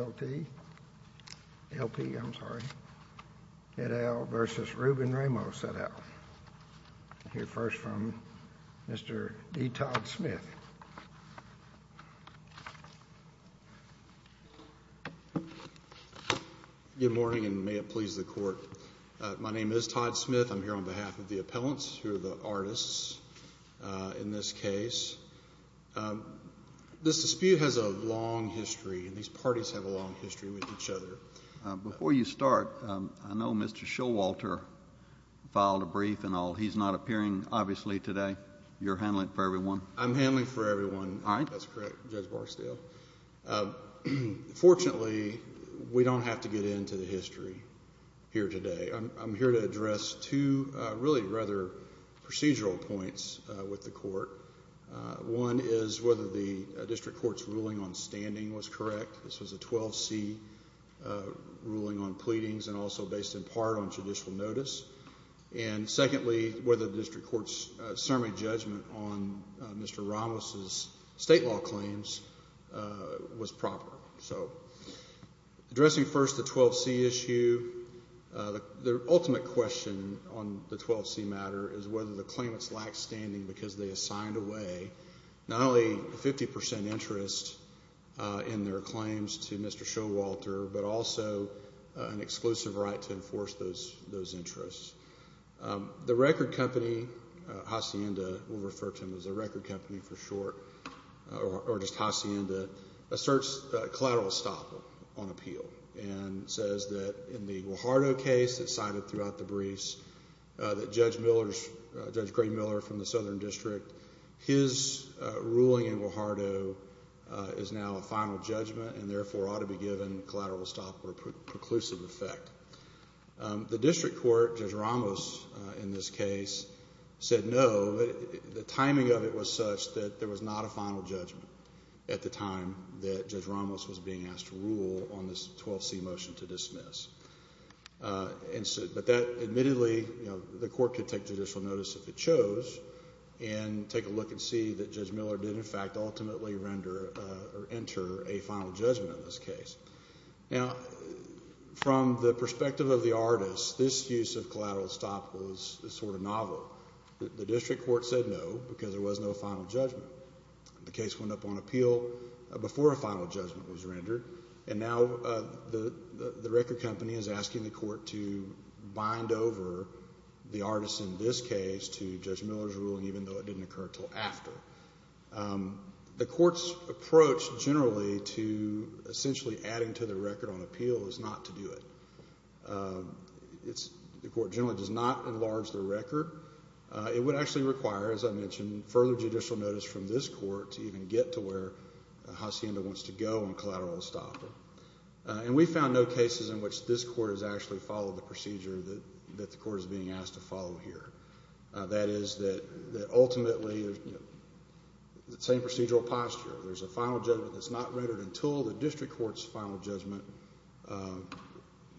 L.P., L.P., I'm sorry, et al. v. Ruben Ramos, et al. We'll hear first from Mr. E. Todd Smith. Good morning, and may it please the Court. My name is Todd Smith. I'm here on behalf of the appellants, who are the artists in this case. This dispute has a long history, and these parties have a long history with each other. Before you start, I know Mr. Showalter filed a brief, and he's not appearing, obviously, today. You're handling it for everyone? I'm handling it for everyone. All right. That's correct, Judge Barksdale. Fortunately, we don't have to get into the history here today. I'm here to address two really rather procedural points with the Court. One is whether the district court's ruling on standing was correct. This was a 12C ruling on pleadings and also based in part on judicial notice. And secondly, whether the district court's summary judgment on Mr. Ramos' state law claims was proper. Addressing first the 12C issue, the ultimate question on the 12C matter is whether the claimants lacked standing because they assigned away not only 50% interest in their claims to Mr. Showalter, but also an exclusive right to enforce those interests. The record company, Hacienda, we'll refer to them as the record company for short, or just Hacienda, asserts collateral estoppel on appeal and says that in the Guajardo case that's cited throughout the briefs, that Judge Gray Miller from the Southern District, his ruling in Guajardo is now a final judgment and therefore ought to be given collateral estoppel or preclusive effect. The district court, Judge Ramos in this case, said no. The timing of it was such that there was not a final judgment at the time that Judge Ramos was being asked to rule on this 12C motion to dismiss. But that admittedly, the court could take judicial notice if it chose and take a look and see that Judge Miller did in fact ultimately render or enter a final judgment in this case. Now, from the perspective of the artist, this use of collateral estoppel is sort of novel. The district court said no because there was no final judgment. The case went up on appeal before a final judgment was rendered and now the record company is asking the court to bind over the artist in this case to Judge Miller's ruling even though it didn't occur until after. The court's approach generally to essentially adding to the record on appeal is not to do it. The court generally does not enlarge the record. It would actually require, as I mentioned, further judicial notice from this court to even get to where Hacienda wants to go on collateral estoppel. And we found no cases in which this court has actually followed the procedure that the court is being asked to follow here. That is that ultimately the same procedural posture. There's a final judgment that's not rendered until the district court's final judgment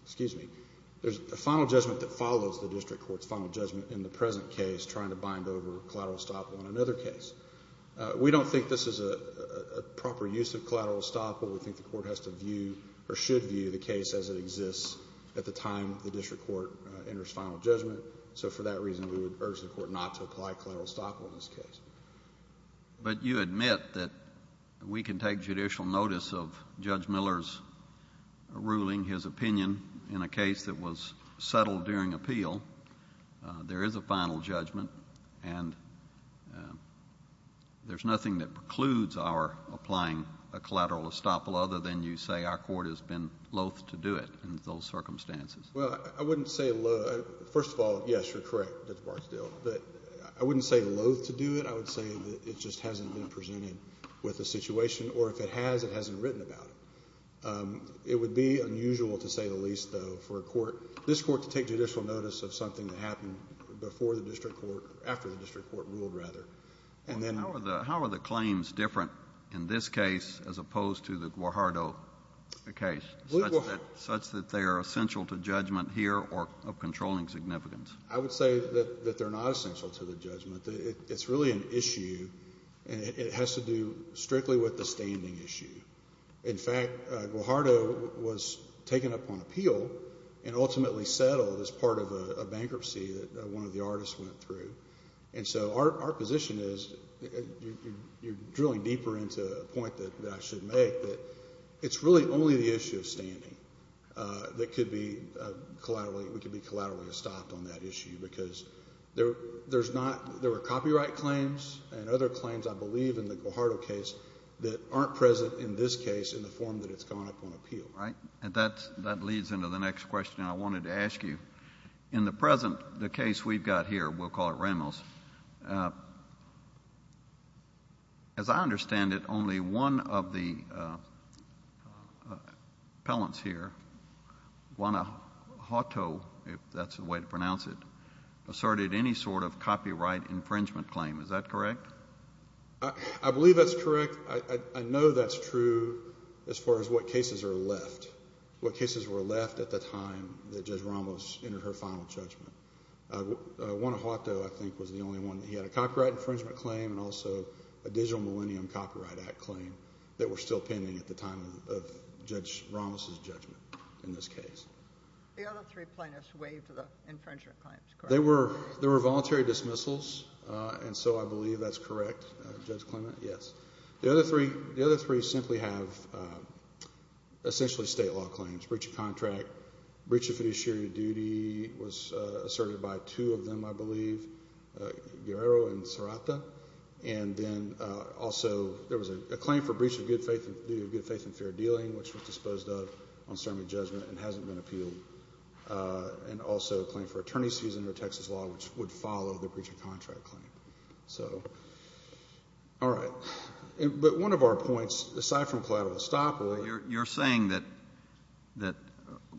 Excuse me. There's a final judgment that follows the district court's final judgment in the present case trying to bind over collateral estoppel in another case. We don't think this is a proper use of collateral estoppel. We think the court has to view or should view the case as it exists at the time the district court enters final judgment. So for that reason, we would urge the court not to apply collateral estoppel in this case. But you admit that we can take judicial notice of Judge Miller's ruling, his opinion, in a case that was settled during appeal. There is a final judgment, and there's nothing that precludes our applying a collateral estoppel other than you say our court has been loath to do it in those circumstances. Well, I wouldn't say loath. First of all, yes, you're correct, Judge Barksdale. But I wouldn't say loath to do it. I would say that it just hasn't been presented with the situation, or if it has, it hasn't written about it. It would be unusual, to say the least, though, for a court, this court, to take judicial notice of something that happened before the district court, after the district court ruled, rather. How are the claims different in this case as opposed to the Guajardo case, such that they are essential to judgment here or of controlling significance? I would say that they're not essential to the judgment. It's really an issue, and it has to do strictly with the standing issue. In fact, Guajardo was taken up on appeal and ultimately settled as part of a bankruptcy that one of the artists went through. And so our position is, you're drilling deeper into a point that I should make, that it's really only the issue of standing that could be collaterally, we could be collaterally stopped on that issue, because there are copyright claims and other claims, I believe, in the Guajardo case that aren't present in this case in the form that it's gone up on appeal. Right. And that leads into the next question I wanted to ask you. In the present, the case we've got here, we'll call it Ramos, as I understand it, only one of the appellants here, Juana Hato, if that's the way to pronounce it, asserted any sort of copyright infringement claim. Is that correct? I believe that's correct. I know that's true as far as what cases are left, what cases were left at the time that Judge Ramos entered her final judgment. Juana Hato, I think, was the only one that had a copyright infringement claim and also a Digital Millennium Copyright Act claim that were still pending at the time of Judge Ramos' judgment in this case. The other three plaintiffs waived the infringement claims, correct? They were voluntary dismissals, and so I believe that's correct, Judge Clement, yes. The other three simply have essentially state law claims, breach of contract, breach of fiduciary duty was asserted by two of them, I believe, Guerrero and Serrata, and then also there was a claim for breach of good faith and fair dealing, which was disposed of on certainly judgment and hasn't been appealed, and also a claim for attorney's fees under Texas law, which would follow the breach of contract claim. So, all right. But one of our points, aside from collateral estoppel. You're saying that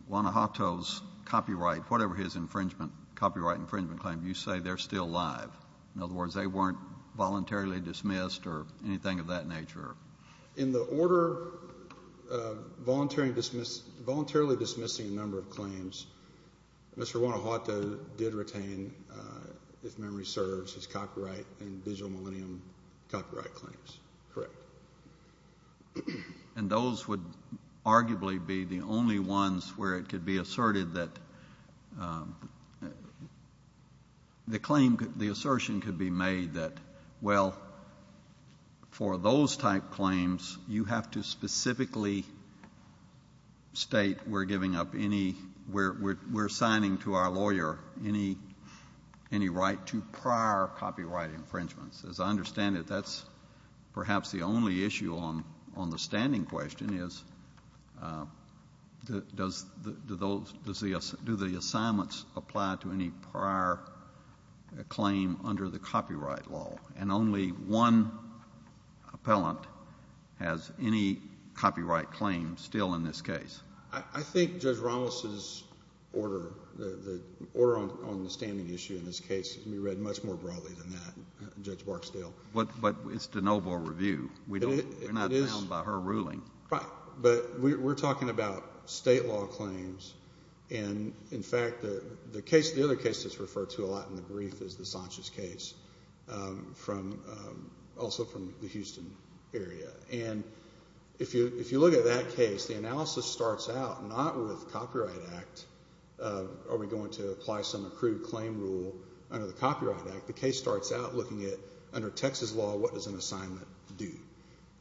Juana Hato's copyright, whatever his infringement, copyright infringement claim, you say they're still alive. In other words, they weren't voluntarily dismissed or anything of that nature? In the order of voluntarily dismissing a number of claims, Mr. Juana Hato did retain, if memory serves, his copyright and digital millennium copyright claims. Correct. And those would arguably be the only ones where it could be asserted that the claim, the assertion could be made that, well, for those type claims, you have to specifically state we're giving up any, we're assigning to our lawyer any right to prior copyright infringements. As I understand it, that's perhaps the only issue on the standing question is, do the assignments apply to any prior claim under the copyright law? And only one appellant has any copyright claim still in this case. I think Judge Ramos's order, the order on the standing issue in this case, can be read much more broadly than that, Judge Barksdale. But it's de novo review. We're not bound by her ruling. But we're talking about state law claims. And, in fact, the other case that's referred to a lot in the brief is the Sanchez case, also from the Houston area. And if you look at that case, the analysis starts out not with copyright act. Are we going to apply some accrued claim rule under the Copyright Act? The case starts out looking at, under Texas law, what does an assignment do?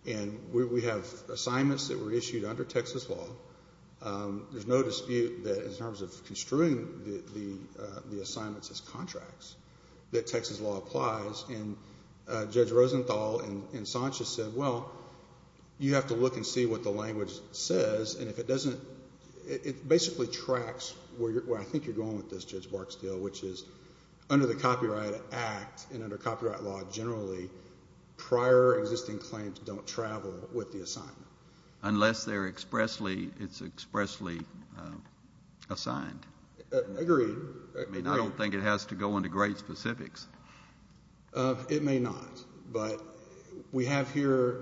And we have assignments that were issued under Texas law. There's no dispute that, in terms of construing the assignments as contracts, that Texas law applies. And Judge Rosenthal and Sanchez said, well, you have to look and see what the language says. And if it doesn't, it basically tracks where I think you're going with this, Judge Barksdale, which is under the Copyright Act and under copyright law generally, prior existing claims don't travel with the assignment. Unless they're expressly assigned. Agreed. I mean, I don't think it has to go into great specifics. It may not. But we have here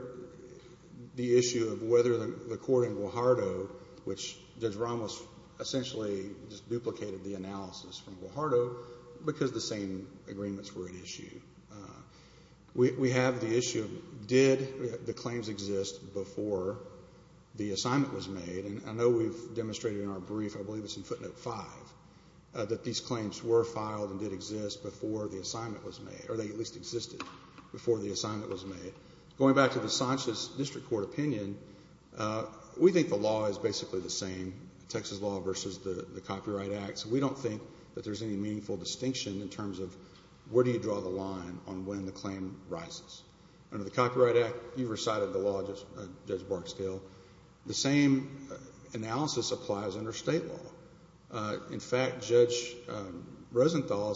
the issue of whether the court in Guajardo, which Judge Ramos essentially just duplicated the analysis from Guajardo, because the same agreements were at issue. We have the issue, did the claims exist before the assignment was made? And I know we've demonstrated in our brief, I believe it's in footnote five, that these claims were filed and did exist before the assignment was made, or they at least existed before the assignment was made. Going back to the Sanchez District Court opinion, we think the law is basically the same, Texas law versus the Copyright Act. So we don't think that there's any meaningful distinction in terms of where do you draw the line on when the claim rises. Under the Copyright Act, you recited the law, Judge Barksdale. The same analysis applies under state law. In fact, Judge Rosenthal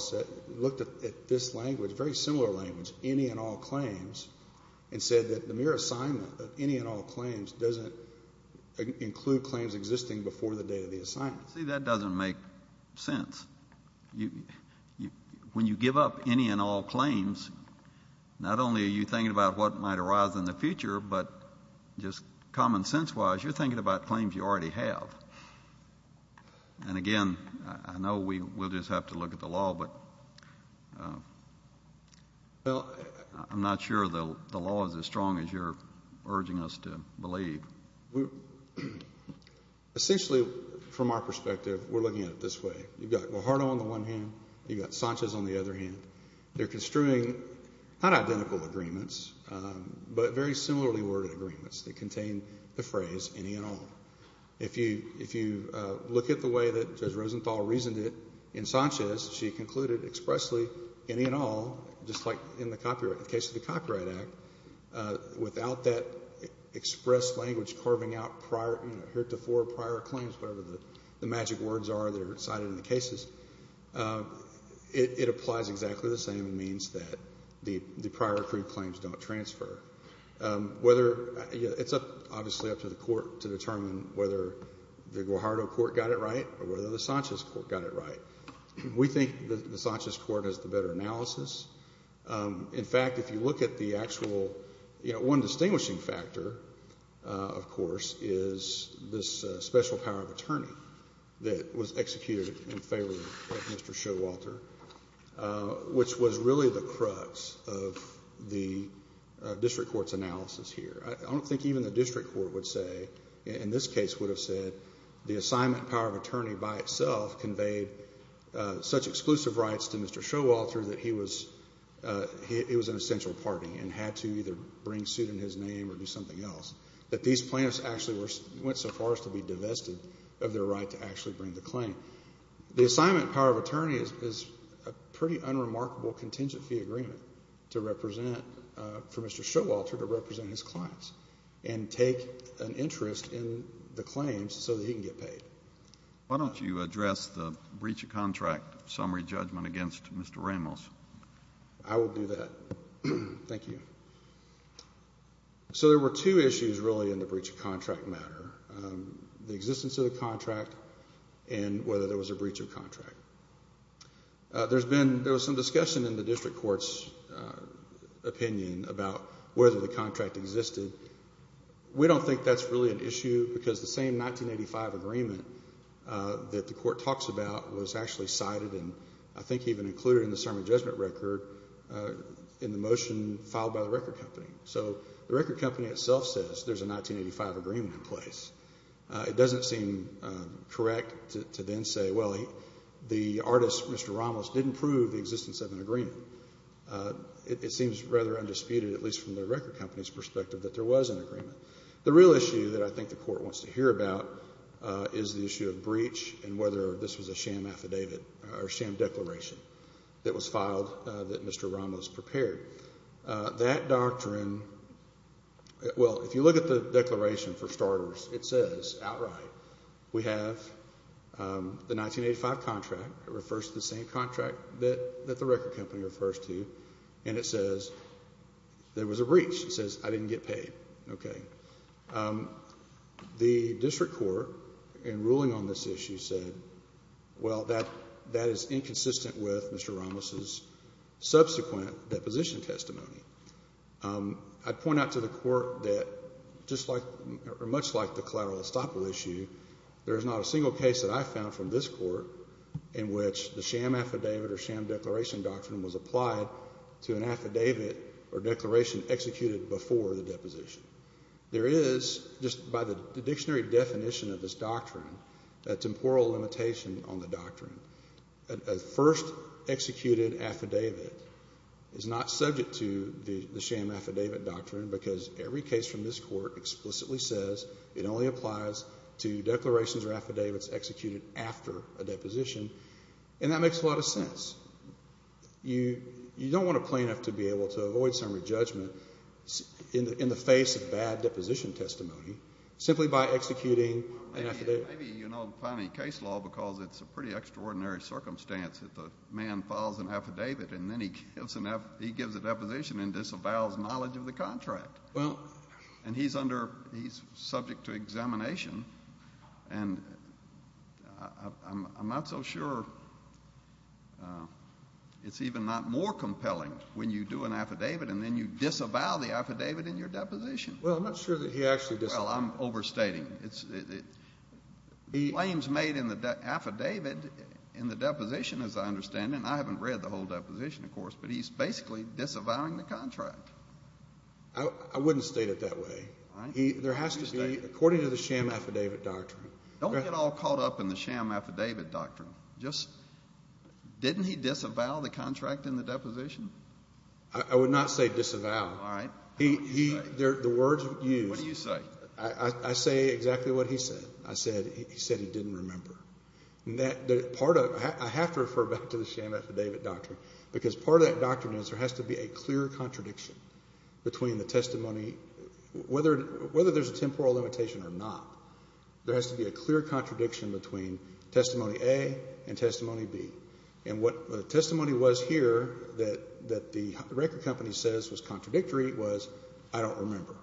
looked at this language, a very similar language, any and all claims, and said that the mere assignment of any and all claims doesn't include claims existing before the date of the assignment. See, that doesn't make sense. When you give up any and all claims, not only are you thinking about what might arise in the future, but just common sense-wise, you're thinking about claims you already have. And again, I know we'll just have to look at the law, but I'm not sure the law is as strong as you're urging us to believe. Essentially, from our perspective, we're looking at it this way. You've got Guajardo on the one hand. You've got Sanchez on the other hand. They're construing not identical agreements, but very similarly worded agreements that contain the phrase any and all. If you look at the way that Judge Rosenthal reasoned it in Sanchez, she concluded expressly any and all, just like in the case of the Copyright Act, without that express language carving out prior, heretofore prior claims, whatever the magic words are that are cited in the cases, it applies exactly the same and means that the prior accrued claims don't transfer. It's obviously up to the court to determine whether the Guajardo court got it right or whether the Sanchez court got it right. We think the Sanchez court has the better analysis. In fact, if you look at the actual one distinguishing factor, of course, is this special power of attorney that was executed in favor of Mr. Showalter, which was really the crux of the district court's analysis here. I don't think even the district court would say, in this case would have said the assignment power of attorney by itself conveyed such exclusive rights to Mr. Showalter that it was an essential party and had to either bring suit in his name or do something else. That these plaintiffs actually went so far as to be divested of their right to actually bring the claim. The assignment power of attorney is a pretty unremarkable contingent fee agreement for Mr. Showalter to represent his clients and take an interest in the claims so that he can get paid. Why don't you address the breach of contract summary judgment against Mr. Ramos? I will do that. Thank you. So there were two issues really in the breach of contract matter. The existence of the contract and whether there was a breach of contract. There was some discussion in the district court's opinion about whether the contract existed. We don't think that's really an issue because the same 1985 agreement that the court talks about was actually cited and I think even included in the summary judgment record in the motion filed by the record company. So the record company itself says there's a 1985 agreement in place. It doesn't seem correct to then say, well, the artist, Mr. Ramos, didn't prove the existence of an agreement. It seems rather undisputed, at least from the record company's perspective, that there was an agreement. The real issue that I think the court wants to hear about is the issue of breach and whether this was a sham affidavit or sham declaration that was filed that Mr. Ramos prepared. That doctrine, well, if you look at the declaration for starters, it says outright we have the 1985 contract. It refers to the same contract that the record company refers to, and it says there was a breach. It says I didn't get paid. Okay. The district court in ruling on this issue said, well, that is inconsistent with Mr. Ramos's subsequent deposition testimony. I'd point out to the court that just like or much like the collateral estoppel issue, there is not a single case that I found from this court in which the sham affidavit or sham declaration doctrine was applied to an affidavit or declaration executed before the deposition. There is, just by the dictionary definition of this doctrine, a temporal limitation on the doctrine. A first executed affidavit is not subject to the sham affidavit doctrine because every case from this court explicitly says it only applies to declarations or affidavits executed after a deposition, and that makes a lot of sense. You don't want a plaintiff to be able to avoid some re-judgment in the face of bad deposition testimony simply by executing an affidavit. Maybe you don't find any case law because it's a pretty extraordinary circumstance that the man files an affidavit and then he gives a deposition and disavows knowledge of the contract. And he's subject to examination, and I'm not so sure it's even not more compelling when you do an affidavit and then you disavow the affidavit in your deposition. Well, I'm not sure that he actually disavowed it. Well, I'm overstating. The claims made in the affidavit in the deposition, as I understand it, and I haven't read the whole deposition, of course, but he's basically disavowing the contract. I wouldn't state it that way. There has to be, according to the sham affidavit doctrine. Don't get all caught up in the sham affidavit doctrine. Just didn't he disavow the contract in the deposition? I would not say disavow. All right. The words used. What do you say? I say exactly what he said. He said he didn't remember. I have to refer back to the sham affidavit doctrine because part of that doctrine is there has to be a clear contradiction between the testimony. Whether there's a temporal limitation or not, there has to be a clear contradiction between testimony A and testimony B. And what the testimony was here that the record company says was contradictory was, I don't remember.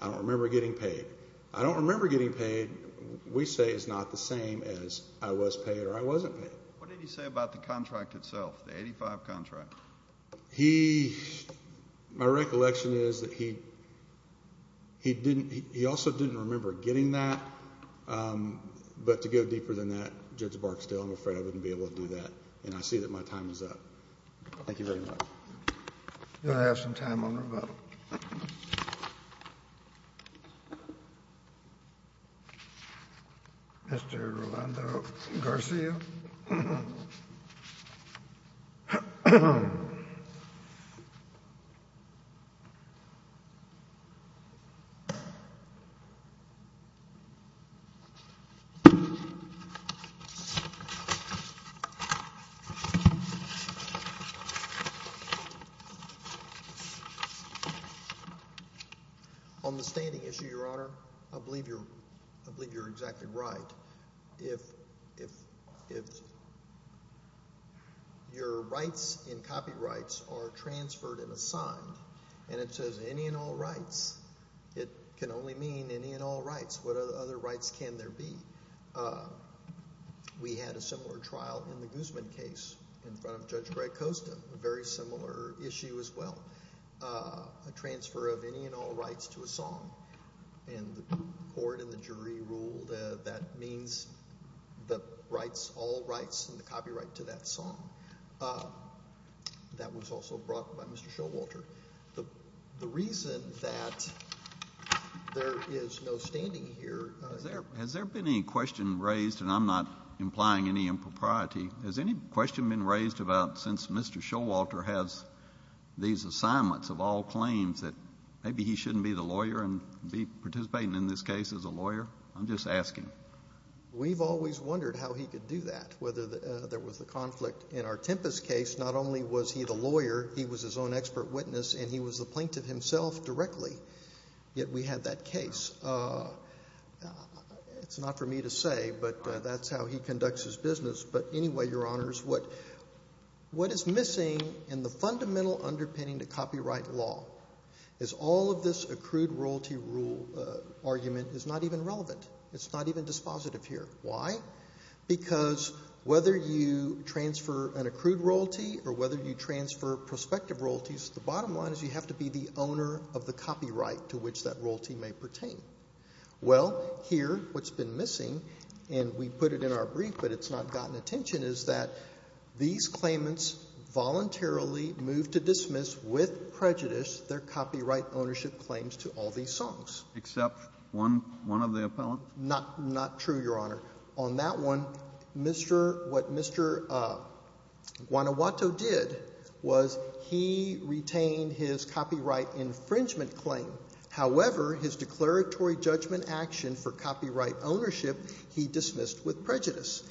I don't remember getting paid. I don't remember getting paid. And what we say is not the same as I was paid or I wasn't paid. What did he say about the contract itself, the 85 contract? He, my recollection is that he also didn't remember getting that. But to go deeper than that, Judge Barksdale, I'm afraid I wouldn't be able to do that. And I see that my time is up. Thank you very much. We're going to have some time on rebuttal. Mr. Rolando Garcia. On the standing issue, Your Honor, I believe you're exactly right. If your rights in copyrights are transferred and assigned, and it says any and all rights, it can only mean any and all rights. What other rights can there be? We had a similar trial in the Guzman case in front of Judge Greg Costa, a very similar issue as well, a transfer of any and all rights to a song. And the court and the jury ruled that that means the rights, all rights, and the copyright to that song. That was also brought by Mr. Showalter. The reason that there is no standing here. Has there been any question raised, and I'm not implying any impropriety, has any question been raised about since Mr. Showalter has these assignments of all claims that maybe he shouldn't be the lawyer and be participating in this case as a lawyer? I'm just asking. We've always wondered how he could do that, whether there was a conflict in our Tempest case. Not only was he the lawyer, he was his own expert witness, and he was the plaintiff himself directly, yet we had that case. It's not for me to say, but that's how he conducts his business. But anyway, Your Honors, what is missing in the fundamental underpinning to copyright law is all of this accrued royalty rule argument is not even relevant. It's not even dispositive here. Why? Because whether you transfer an accrued royalty or whether you transfer prospective royalties, the bottom line is you have to be the owner of the copyright to which that royalty may pertain. Well, here what's been missing, and we put it in our brief, but it's not gotten attention, is that these claimants voluntarily moved to dismiss with prejudice their copyright ownership claims to all these songs. Except one of the appellant? Not true, Your Honor. On that one, what Mr. Guanajuato did was he retained his copyright infringement claim. However, his declaratory judgment action for copyright ownership he dismissed with prejudice.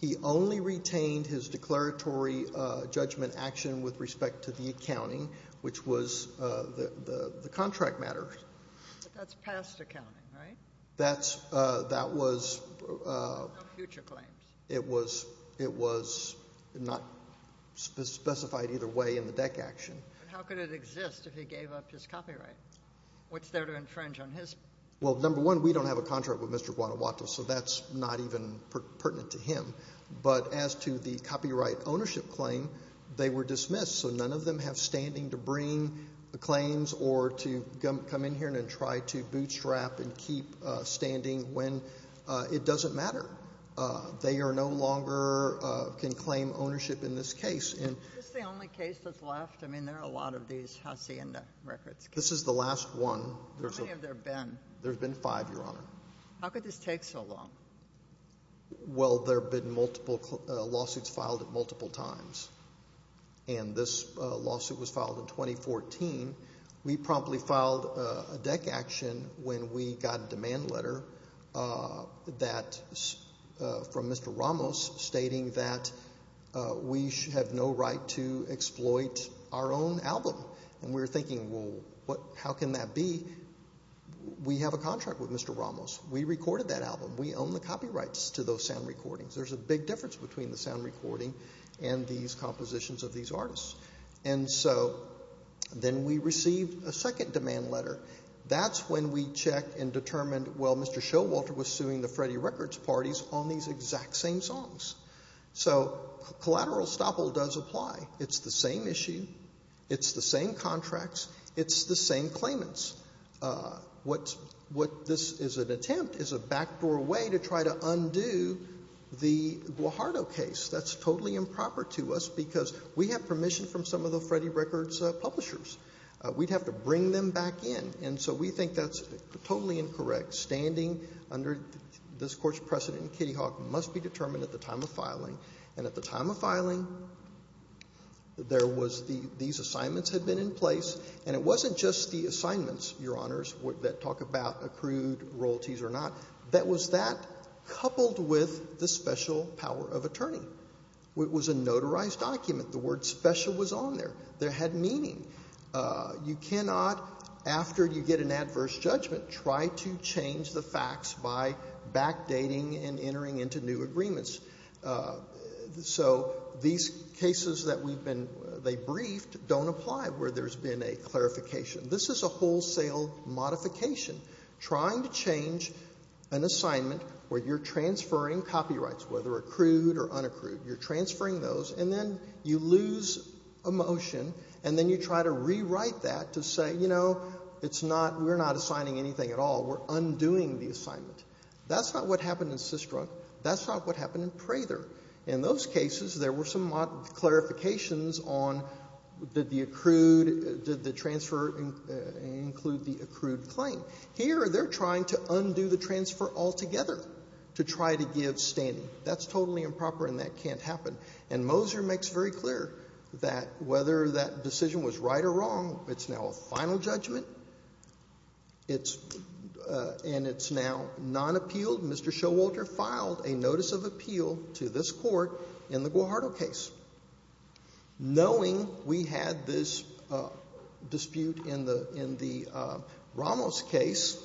He only retained his declaratory judgment action with respect to the accounting, which was the contract matter. But that's past accounting, right? That was... No future claims. It was not specified either way in the deck action. But how could it exist if he gave up his copyright? What's there to infringe on his? Well, number one, we don't have a contract with Mr. Guanajuato, so that's not even pertinent to him. But as to the copyright ownership claim, they were dismissed, so none of them have standing to bring the claims or to come in here and try to bootstrap and keep standing when it doesn't matter. They no longer can claim ownership in this case. Is this the only case that's left? I mean, there are a lot of these Hacienda records. This is the last one. How many have there been? There have been five, Your Honor. How could this take so long? Well, there have been multiple lawsuits filed at multiple times. And this lawsuit was filed in 2014. We promptly filed a deck action when we got a demand letter from Mr. Ramos stating that we have no right to exploit our own album. And we were thinking, well, how can that be? We have a contract with Mr. Ramos. We recorded that album. We own the copyrights to those sound recordings. There's a big difference between the sound recording and these compositions of these artists. And so then we received a second demand letter. That's when we checked and determined, well, Mr. Showalter was suing the Freddie Records parties on these exact same songs. So collateral estoppel does apply. It's the same issue. It's the same contracts. It's the same claimants. What this is an attempt is a backdoor way to try to undo the Guajardo case. That's totally improper to us because we have permission from some of the Freddie Records publishers. We'd have to bring them back in. And so we think that's totally incorrect. Standing under this Court's precedent, Kitty Hawk, must be determined at the time of filing. And at the time of filing, these assignments had been in place, and it wasn't just the assignments, Your Honors, that talk about accrued royalties or not. That was that coupled with the special power of attorney. It was a notarized document. The word special was on there. There had meaning. You cannot, after you get an adverse judgment, try to change the facts by backdating and entering into new agreements. So these cases that they briefed don't apply where there's been a clarification. This is a wholesale modification, trying to change an assignment where you're transferring copyrights, whether accrued or unaccrued. You're transferring those, and then you lose a motion, and then you try to rewrite that to say, you know, it's not, we're not assigning anything at all. We're undoing the assignment. That's not what happened in Systrunk. That's not what happened in Prather. In those cases, there were some clarifications on, did the accrued, did the transfer include the accrued claim? Here, they're trying to undo the transfer altogether to try to give standing. That's totally improper, and that can't happen. And Moser makes very clear that whether that decision was right or wrong, it's now a final judgment, and it's now non-appealed. Mr. Showalter filed a notice of appeal to this court in the Guajardo case. Knowing we had this dispute in the Ramos case,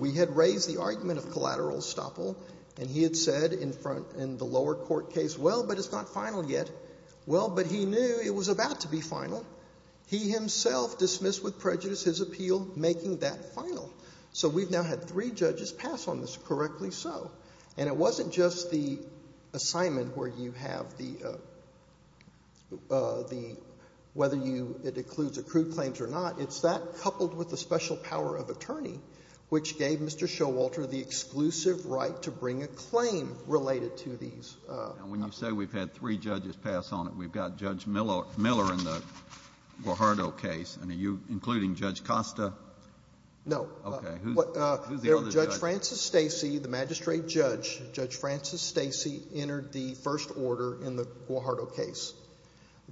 we had raised the argument of collateral estoppel, and he had said in the lower court case, well, but it's not final yet. Well, but he knew it was about to be final. He himself dismissed with prejudice his appeal making that final. So we've now had three judges pass on this, correctly so. And it wasn't just the assignment where you have the, whether it includes accrued claims or not. It's that coupled with the special power of attorney, which gave Mr. Showalter the exclusive right to bring a claim related to these. And when you say we've had three judges pass on it, we've got Judge Miller in the Guajardo case, and are you including Judge Costa? No. Okay. Who's the other judge? Judge Francis Stacey, the magistrate judge, Judge Francis Stacey entered the first order in the Guajardo case.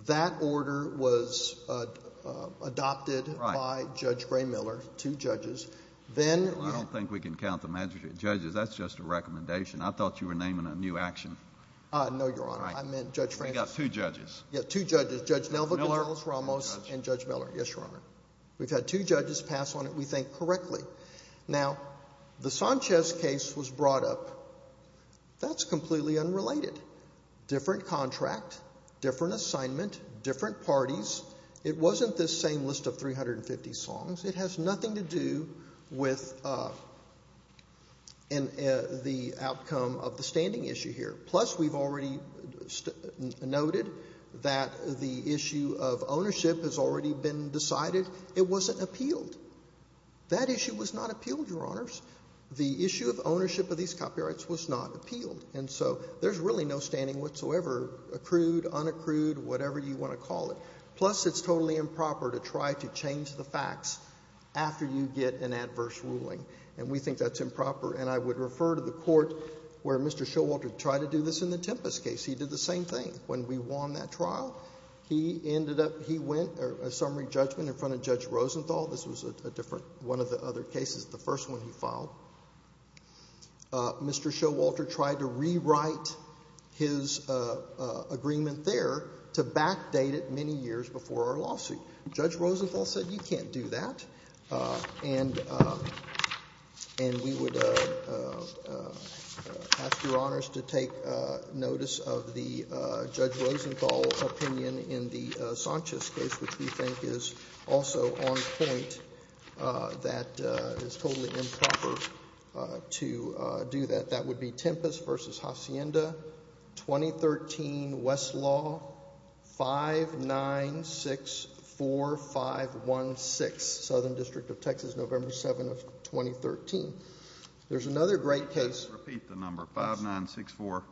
That order was adopted by Judge Gray Miller, two judges. Well, I don't think we can count the magistrate judges. That's just a recommendation. I thought you were naming a new action. No, Your Honor. I meant Judge Francis. I got two judges. Yeah, two judges. Judge Nelvick and Judge Ramos and Judge Miller. Yes, Your Honor. We've had two judges pass on it, we think, correctly. Now, the Sanchez case was brought up. That's completely unrelated. Different contract, different assignment, different parties. It wasn't this same list of 350 songs. It has nothing to do with the outcome of the standing issue here. Plus, we've already noted that the issue of ownership has already been decided. It wasn't appealed. That issue was not appealed, Your Honors. The issue of ownership of these copyrights was not appealed, and so there's really no standing whatsoever, accrued, unaccrued, whatever you want to call it. Plus, it's totally improper to try to change the facts after you get an adverse ruling, and we think that's improper. And I would refer to the court where Mr. Showalter tried to do this in the Tempest case. He did the same thing when we won that trial. He ended up, he went, a summary judgment in front of Judge Rosenthal. This was a different, one of the other cases, the first one he filed. Mr. Showalter tried to rewrite his agreement there to backdate it many years before our lawsuit. Judge Rosenthal said, you can't do that. And we would ask Your Honors to take notice of the Judge Rosenthal opinion in the Sanchez case, which we think is also on point, that it's totally improper to do that. That would be Tempest v. Hacienda, 2013, Westlaw, 5964516, Southern District of Texas, November 7, 2013. There's another great case. Repeat the number, 5964.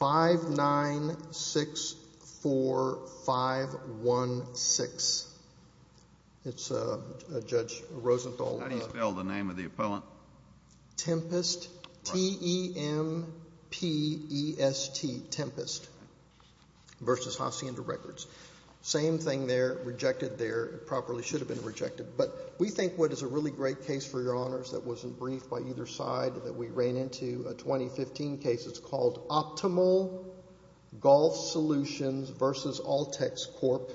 5964516. It's Judge Rosenthal. How do you spell the name of the appellant? Tempest, T-E-M-P-E-S-T, Tempest v. Hacienda Records. Same thing there, rejected there. It properly should have been rejected. But we think what is a really great case for Your Honors that wasn't briefed by either side that we ran into, a 2015 case that's called Optimal Golf Solutions v. Altex Corp.,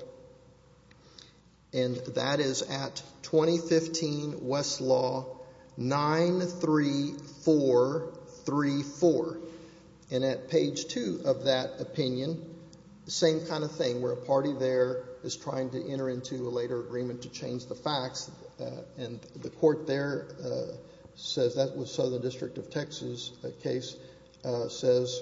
and that is at 2015 Westlaw 93434. And at page 2 of that opinion, same kind of thing, where a party there is trying to enter into a later agreement to change the facts, and the court there says that was Southern District of Texas case, says,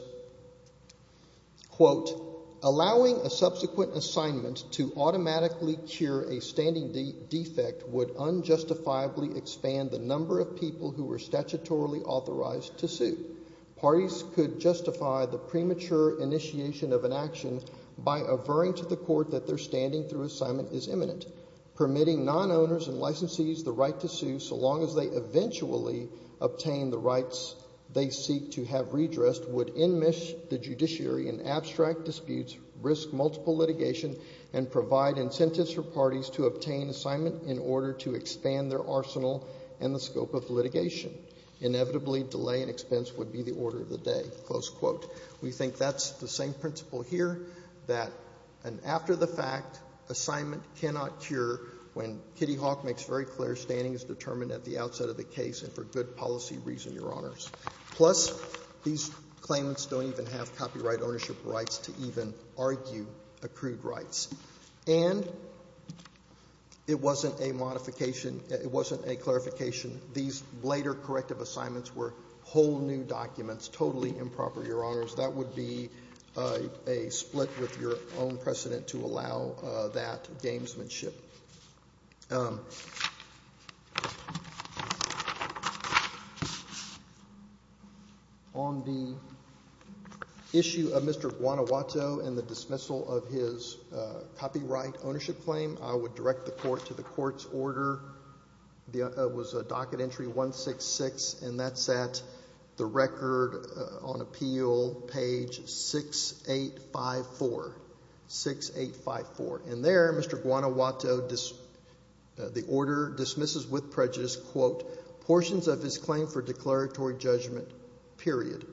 quote, Allowing a subsequent assignment to automatically cure a standing defect would unjustifiably expand the number of people who were statutorily authorized to sue. Parties could justify the premature initiation of an action by averring to the court that their standing through assignment is imminent. Permitting non-owners and licensees the right to sue so long as they eventually obtain the rights they seek to have redressed would enmesh the judiciary in abstract disputes, risk multiple litigation, and provide incentives for parties to obtain assignment in order to expand their arsenal and the scope of litigation. Inevitably, delay and expense would be the order of the day. Close quote. We think that's the same principle here, that an after-the-fact assignment cannot cure when Kitty Hawk makes very clear standing is determined at the outset of the case and for good policy reason, Your Honors. Plus, these claimants don't even have copyright ownership rights to even argue accrued rights. And it wasn't a modification, it wasn't a clarification. These later corrective assignments were whole new documents, totally improper, Your Honors. That would be a split with your own precedent to allow that gamesmanship. On the issue of Mr. Guanajuato and the dismissal of his copyright ownership claim, I would direct the court to the court's order. It was a docket entry 166, and that's at the record on appeal, page 6854. And there, Mr. Guanajuato, the order dismisses with prejudice, quote, portions of his claim for declaratory judgment, period.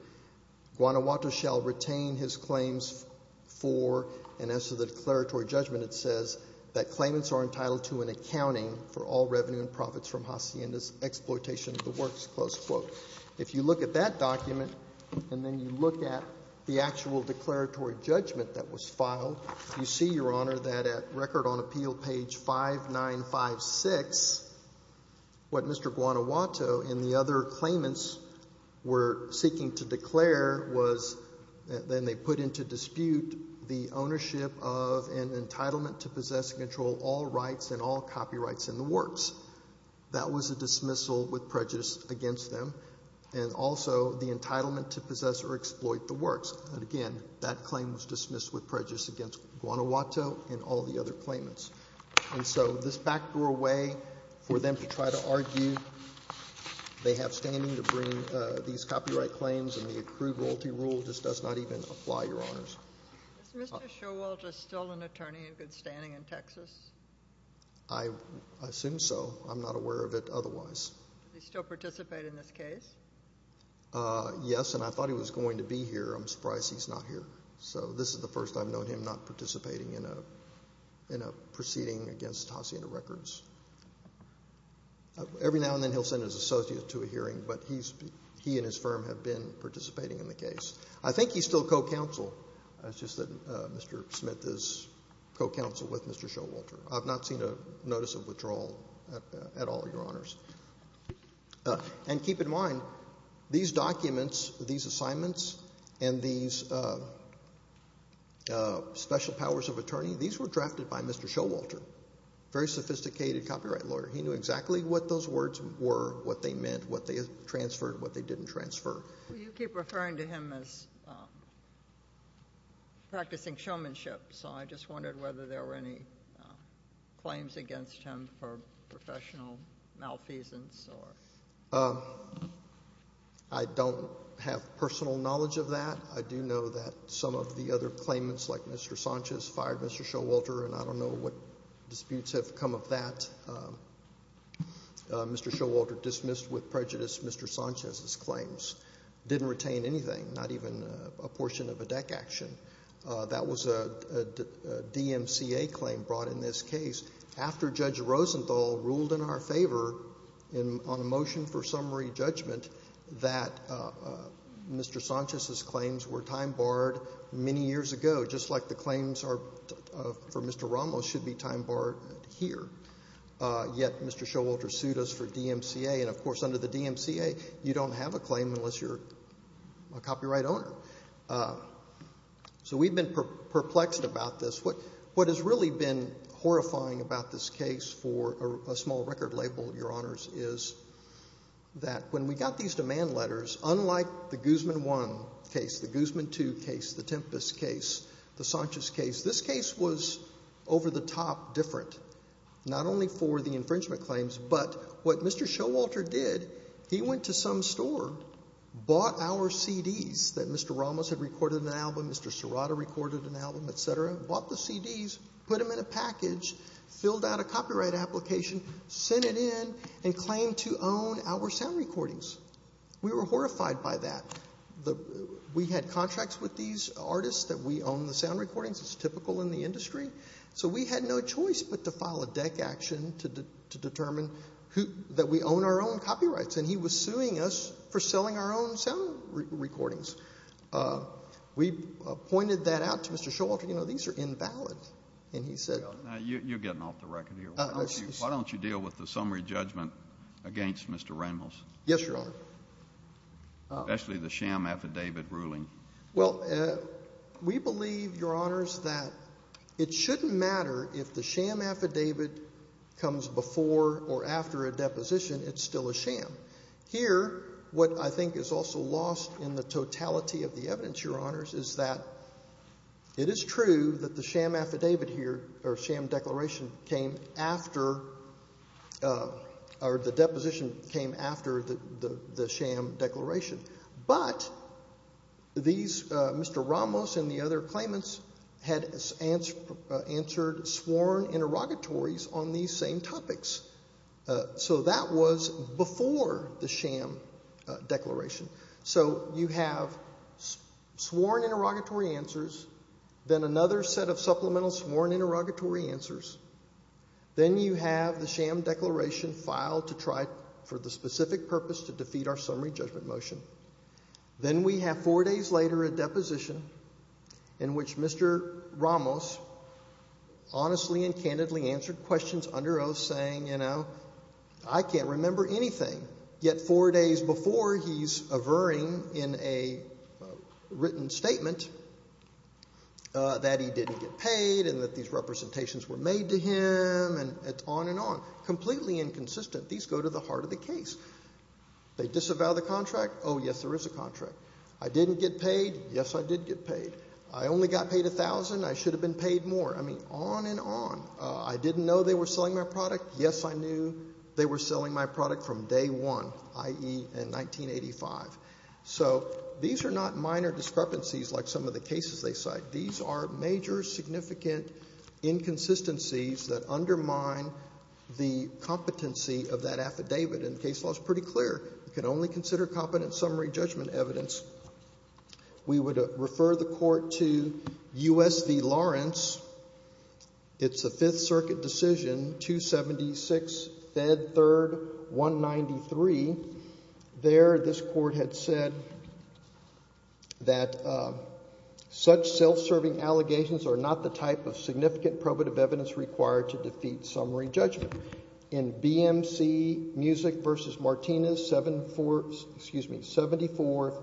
Guanajuato shall retain his claims for, and as to the declaratory judgment, it says, that claimants are entitled to an accounting for all revenue and profits from Hacienda's exploitation of the works. Close quote. If you look at that document and then you look at the actual declaratory judgment that was filed, you see, Your Honor, that at record on appeal, page 5956, what Mr. Guanajuato and the other claimants were seeking to declare was, then they put into dispute the ownership of and entitlement to possess and control all rights and all copyrights in the works. That was a dismissal with prejudice against them, and also the entitlement to possess or exploit the works. And again, that claim was dismissed with prejudice against Guanajuato and all the other claimants. And so this backdrew away for them to try to argue. They have standing to bring these copyright claims, and the accrued royalty rule just does not even apply, Your Honors. Is Mr. Showalter still an attorney in good standing in Texas? I assume so. I'm not aware of it otherwise. Does he still participate in this case? Yes, and I thought he was going to be here. I'm surprised he's not here. So this is the first I've known him not participating in a proceeding against Tosina Records. Every now and then he'll send his associate to a hearing, but he and his firm have been participating in the case. I think he's still co-counsel. It's just that Mr. Smith is co-counsel with Mr. Showalter. I've not seen a notice of withdrawal at all, Your Honors. And keep in mind, these documents, these assignments, and these special powers of attorney, these were drafted by Mr. Showalter, a very sophisticated copyright lawyer. He knew exactly what those words were, what they meant, what they transferred, what they didn't transfer. You keep referring to him as practicing showmanship, so I just wondered whether there were any claims against him for professional malfeasance. I don't have personal knowledge of that. I do know that some of the other claimants, like Mr. Sanchez, fired Mr. Showalter, and I don't know what disputes have come of that. Mr. Showalter dismissed with prejudice Mr. Sanchez's claims. Didn't retain anything, not even a portion of a deck action. That was a DMCA claim brought in this case, after Judge Rosenthal ruled in our favor on a motion for summary judgment that Mr. Sanchez's claims were time-barred many years ago, just like the claims for Mr. Ramos should be time-barred here. Yet Mr. Showalter sued us for DMCA, and of course under the DMCA you don't have a claim unless you're a copyright owner. So we've been perplexed about this. What has really been horrifying about this case for a small record label, Your Honors, is that when we got these demand letters, unlike the Guzman I case, the Guzman II case, the Tempest case, the Sanchez case, this case was over-the-top different, not only for the infringement claims, but what Mr. Showalter did, he went to some store, bought our CDs that Mr. Ramos had recorded an album, Mr. Serrata recorded an album, et cetera, bought the CDs, put them in a package, filled out a copyright application, sent it in, and claimed to own our sound recordings. We were horrified by that. We had contracts with these artists that we owned the sound recordings. It's typical in the industry. So we had no choice but to file a deck action to determine that we own our own copyrights, and he was suing us for selling our own sound recordings. We pointed that out to Mr. Showalter, you know, these are invalid, and he said— Now, you're getting off the record here. Why don't you deal with the summary judgment against Mr. Ramos? Yes, Your Honor. Especially the sham affidavit ruling. Well, we believe, Your Honors, that it shouldn't matter if the sham affidavit comes before or after a deposition, it's still a sham. Here, what I think is also lost in the totality of the evidence, Your Honors, is that it is true that the sham affidavit here, or sham declaration, came after— or the deposition came after the sham declaration. But these—Mr. Ramos and the other claimants had answered sworn interrogatories on these same topics. So that was before the sham declaration. So you have sworn interrogatory answers, then another set of supplemental sworn interrogatory answers, then you have the sham declaration filed to try for the specific purpose to defeat our summary judgment motion. Then we have four days later a deposition in which Mr. Ramos honestly and candidly answered questions under oath, saying, you know, I can't remember anything, yet four days before he's averring in a written statement that he didn't get paid and that these representations were made to him, and on and on. Completely inconsistent. These go to the heart of the case. They disavow the contract. Oh, yes, there is a contract. I didn't get paid. Yes, I did get paid. I only got paid $1,000. I should have been paid more. I mean, on and on. I didn't know they were selling my product. Yes, I knew they were selling my product from day one, i.e. in 1985. So these are not minor discrepancies like some of the cases they cite. These are major significant inconsistencies that undermine the competency of that affidavit. And the case law is pretty clear. You can only consider competent summary judgment evidence. We would refer the court to U.S. v. Lawrence. It's a Fifth Circuit decision, 276, Fed 3rd, 193. There this court had said that such self-serving allegations are not the type of significant probative evidence required to defeat summary judgment. In BMC Music v. Martinez, 74,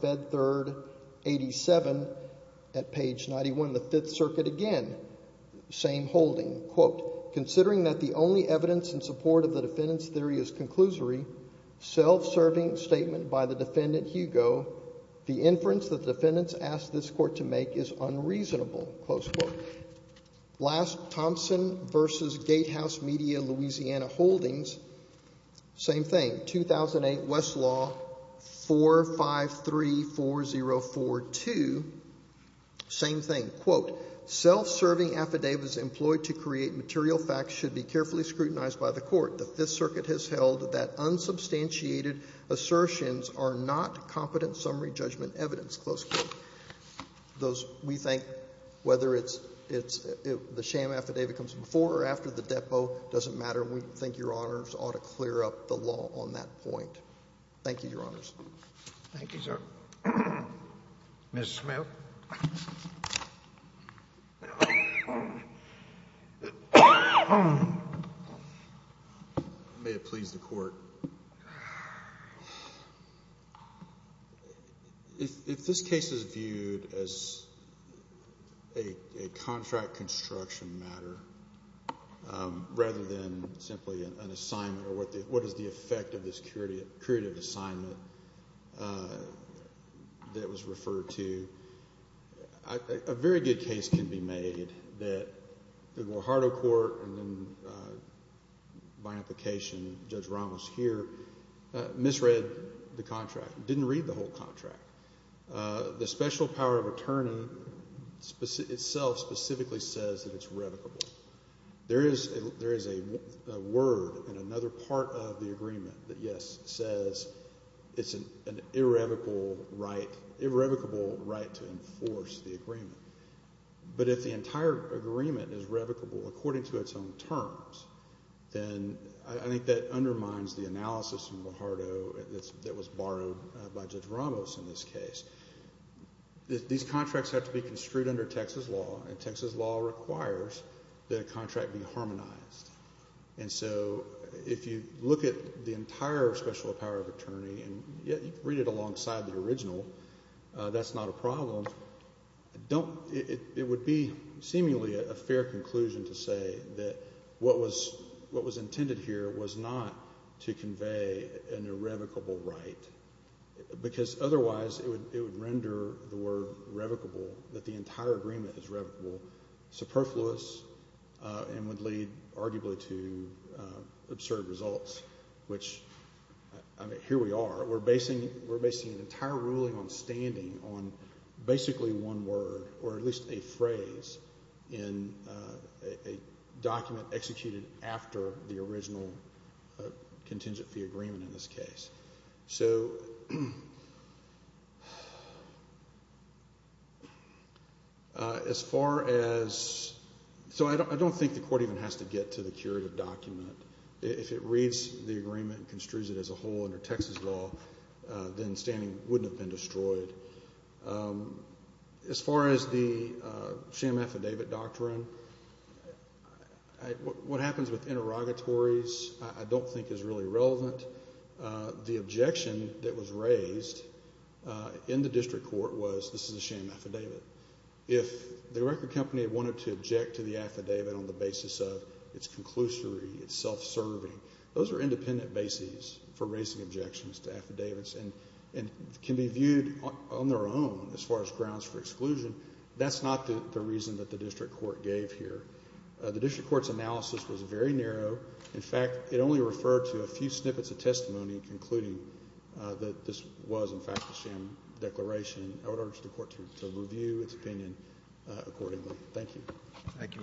Fed 3rd, 87, at page 91 of the Fifth Circuit, again, same holding. Quote, considering that the only evidence in support of the defendant's theory is conclusory, self-serving statement by the defendant, Hugo, the inference that the defendants asked this court to make is unreasonable. Close quote. Last, Thompson v. Gatehouse Media, Louisiana Holdings, same thing, 2008 Westlaw 4534042, same thing. Quote, self-serving affidavits employed to create material facts should be carefully scrutinized by the court. The Fifth Circuit has held that unsubstantiated assertions are not competent summary judgment evidence. Close quote. We think whether it's the sham affidavit comes before or after the depo doesn't matter. We think Your Honors ought to clear up the law on that point. Thank you, Your Honors. Thank you, sir. Ms. Smith. May it please the Court. If this case is viewed as a contract construction matter rather than simply an assignment or what is the effect of this curative assignment that was referred to, a very good case can be made that the Guajardo Court and then by application Judge Ramos here misread the contract, didn't read the whole contract. The special power of attorney itself specifically says that it's revocable. There is a word in another part of the agreement that, yes, says it's an irrevocable right to enforce the agreement. But if the entire agreement is revocable according to its own terms, then I think that undermines the analysis in Guajardo that was borrowed by Judge Ramos in this case. These contracts have to be construed under Texas law, and Texas law requires that a contract be harmonized. And so if you look at the entire special power of attorney and read it alongside the original, that's not a problem. It would be seemingly a fair conclusion to say that what was intended here was not to convey an irrevocable right because otherwise it would render the word revocable, that the entire agreement is revocable, superfluous, and would lead arguably to absurd results, which here we are. We're basing an entire ruling on standing on basically one word or at least a phrase in a document executed after the original contingent fee agreement in this case. So as far as—so I don't think the court even has to get to the curative document. If it reads the agreement and construes it as a whole under Texas law, then standing wouldn't have been destroyed. As far as the sham affidavit doctrine, what happens with interrogatories I don't think is really relevant. The objection that was raised in the district court was this is a sham affidavit. If the record company wanted to object to the affidavit on the basis of its conclusory, its self-serving, those are independent bases for raising objections to affidavits and can be viewed on their own as far as grounds for exclusion. That's not the reason that the district court gave here. The district court's analysis was very narrow. In fact, it only referred to a few snippets of testimony including that this was, in fact, a sham declaration. I would urge the court to review its opinion accordingly. Thank you. Thank you, Mr. Smith.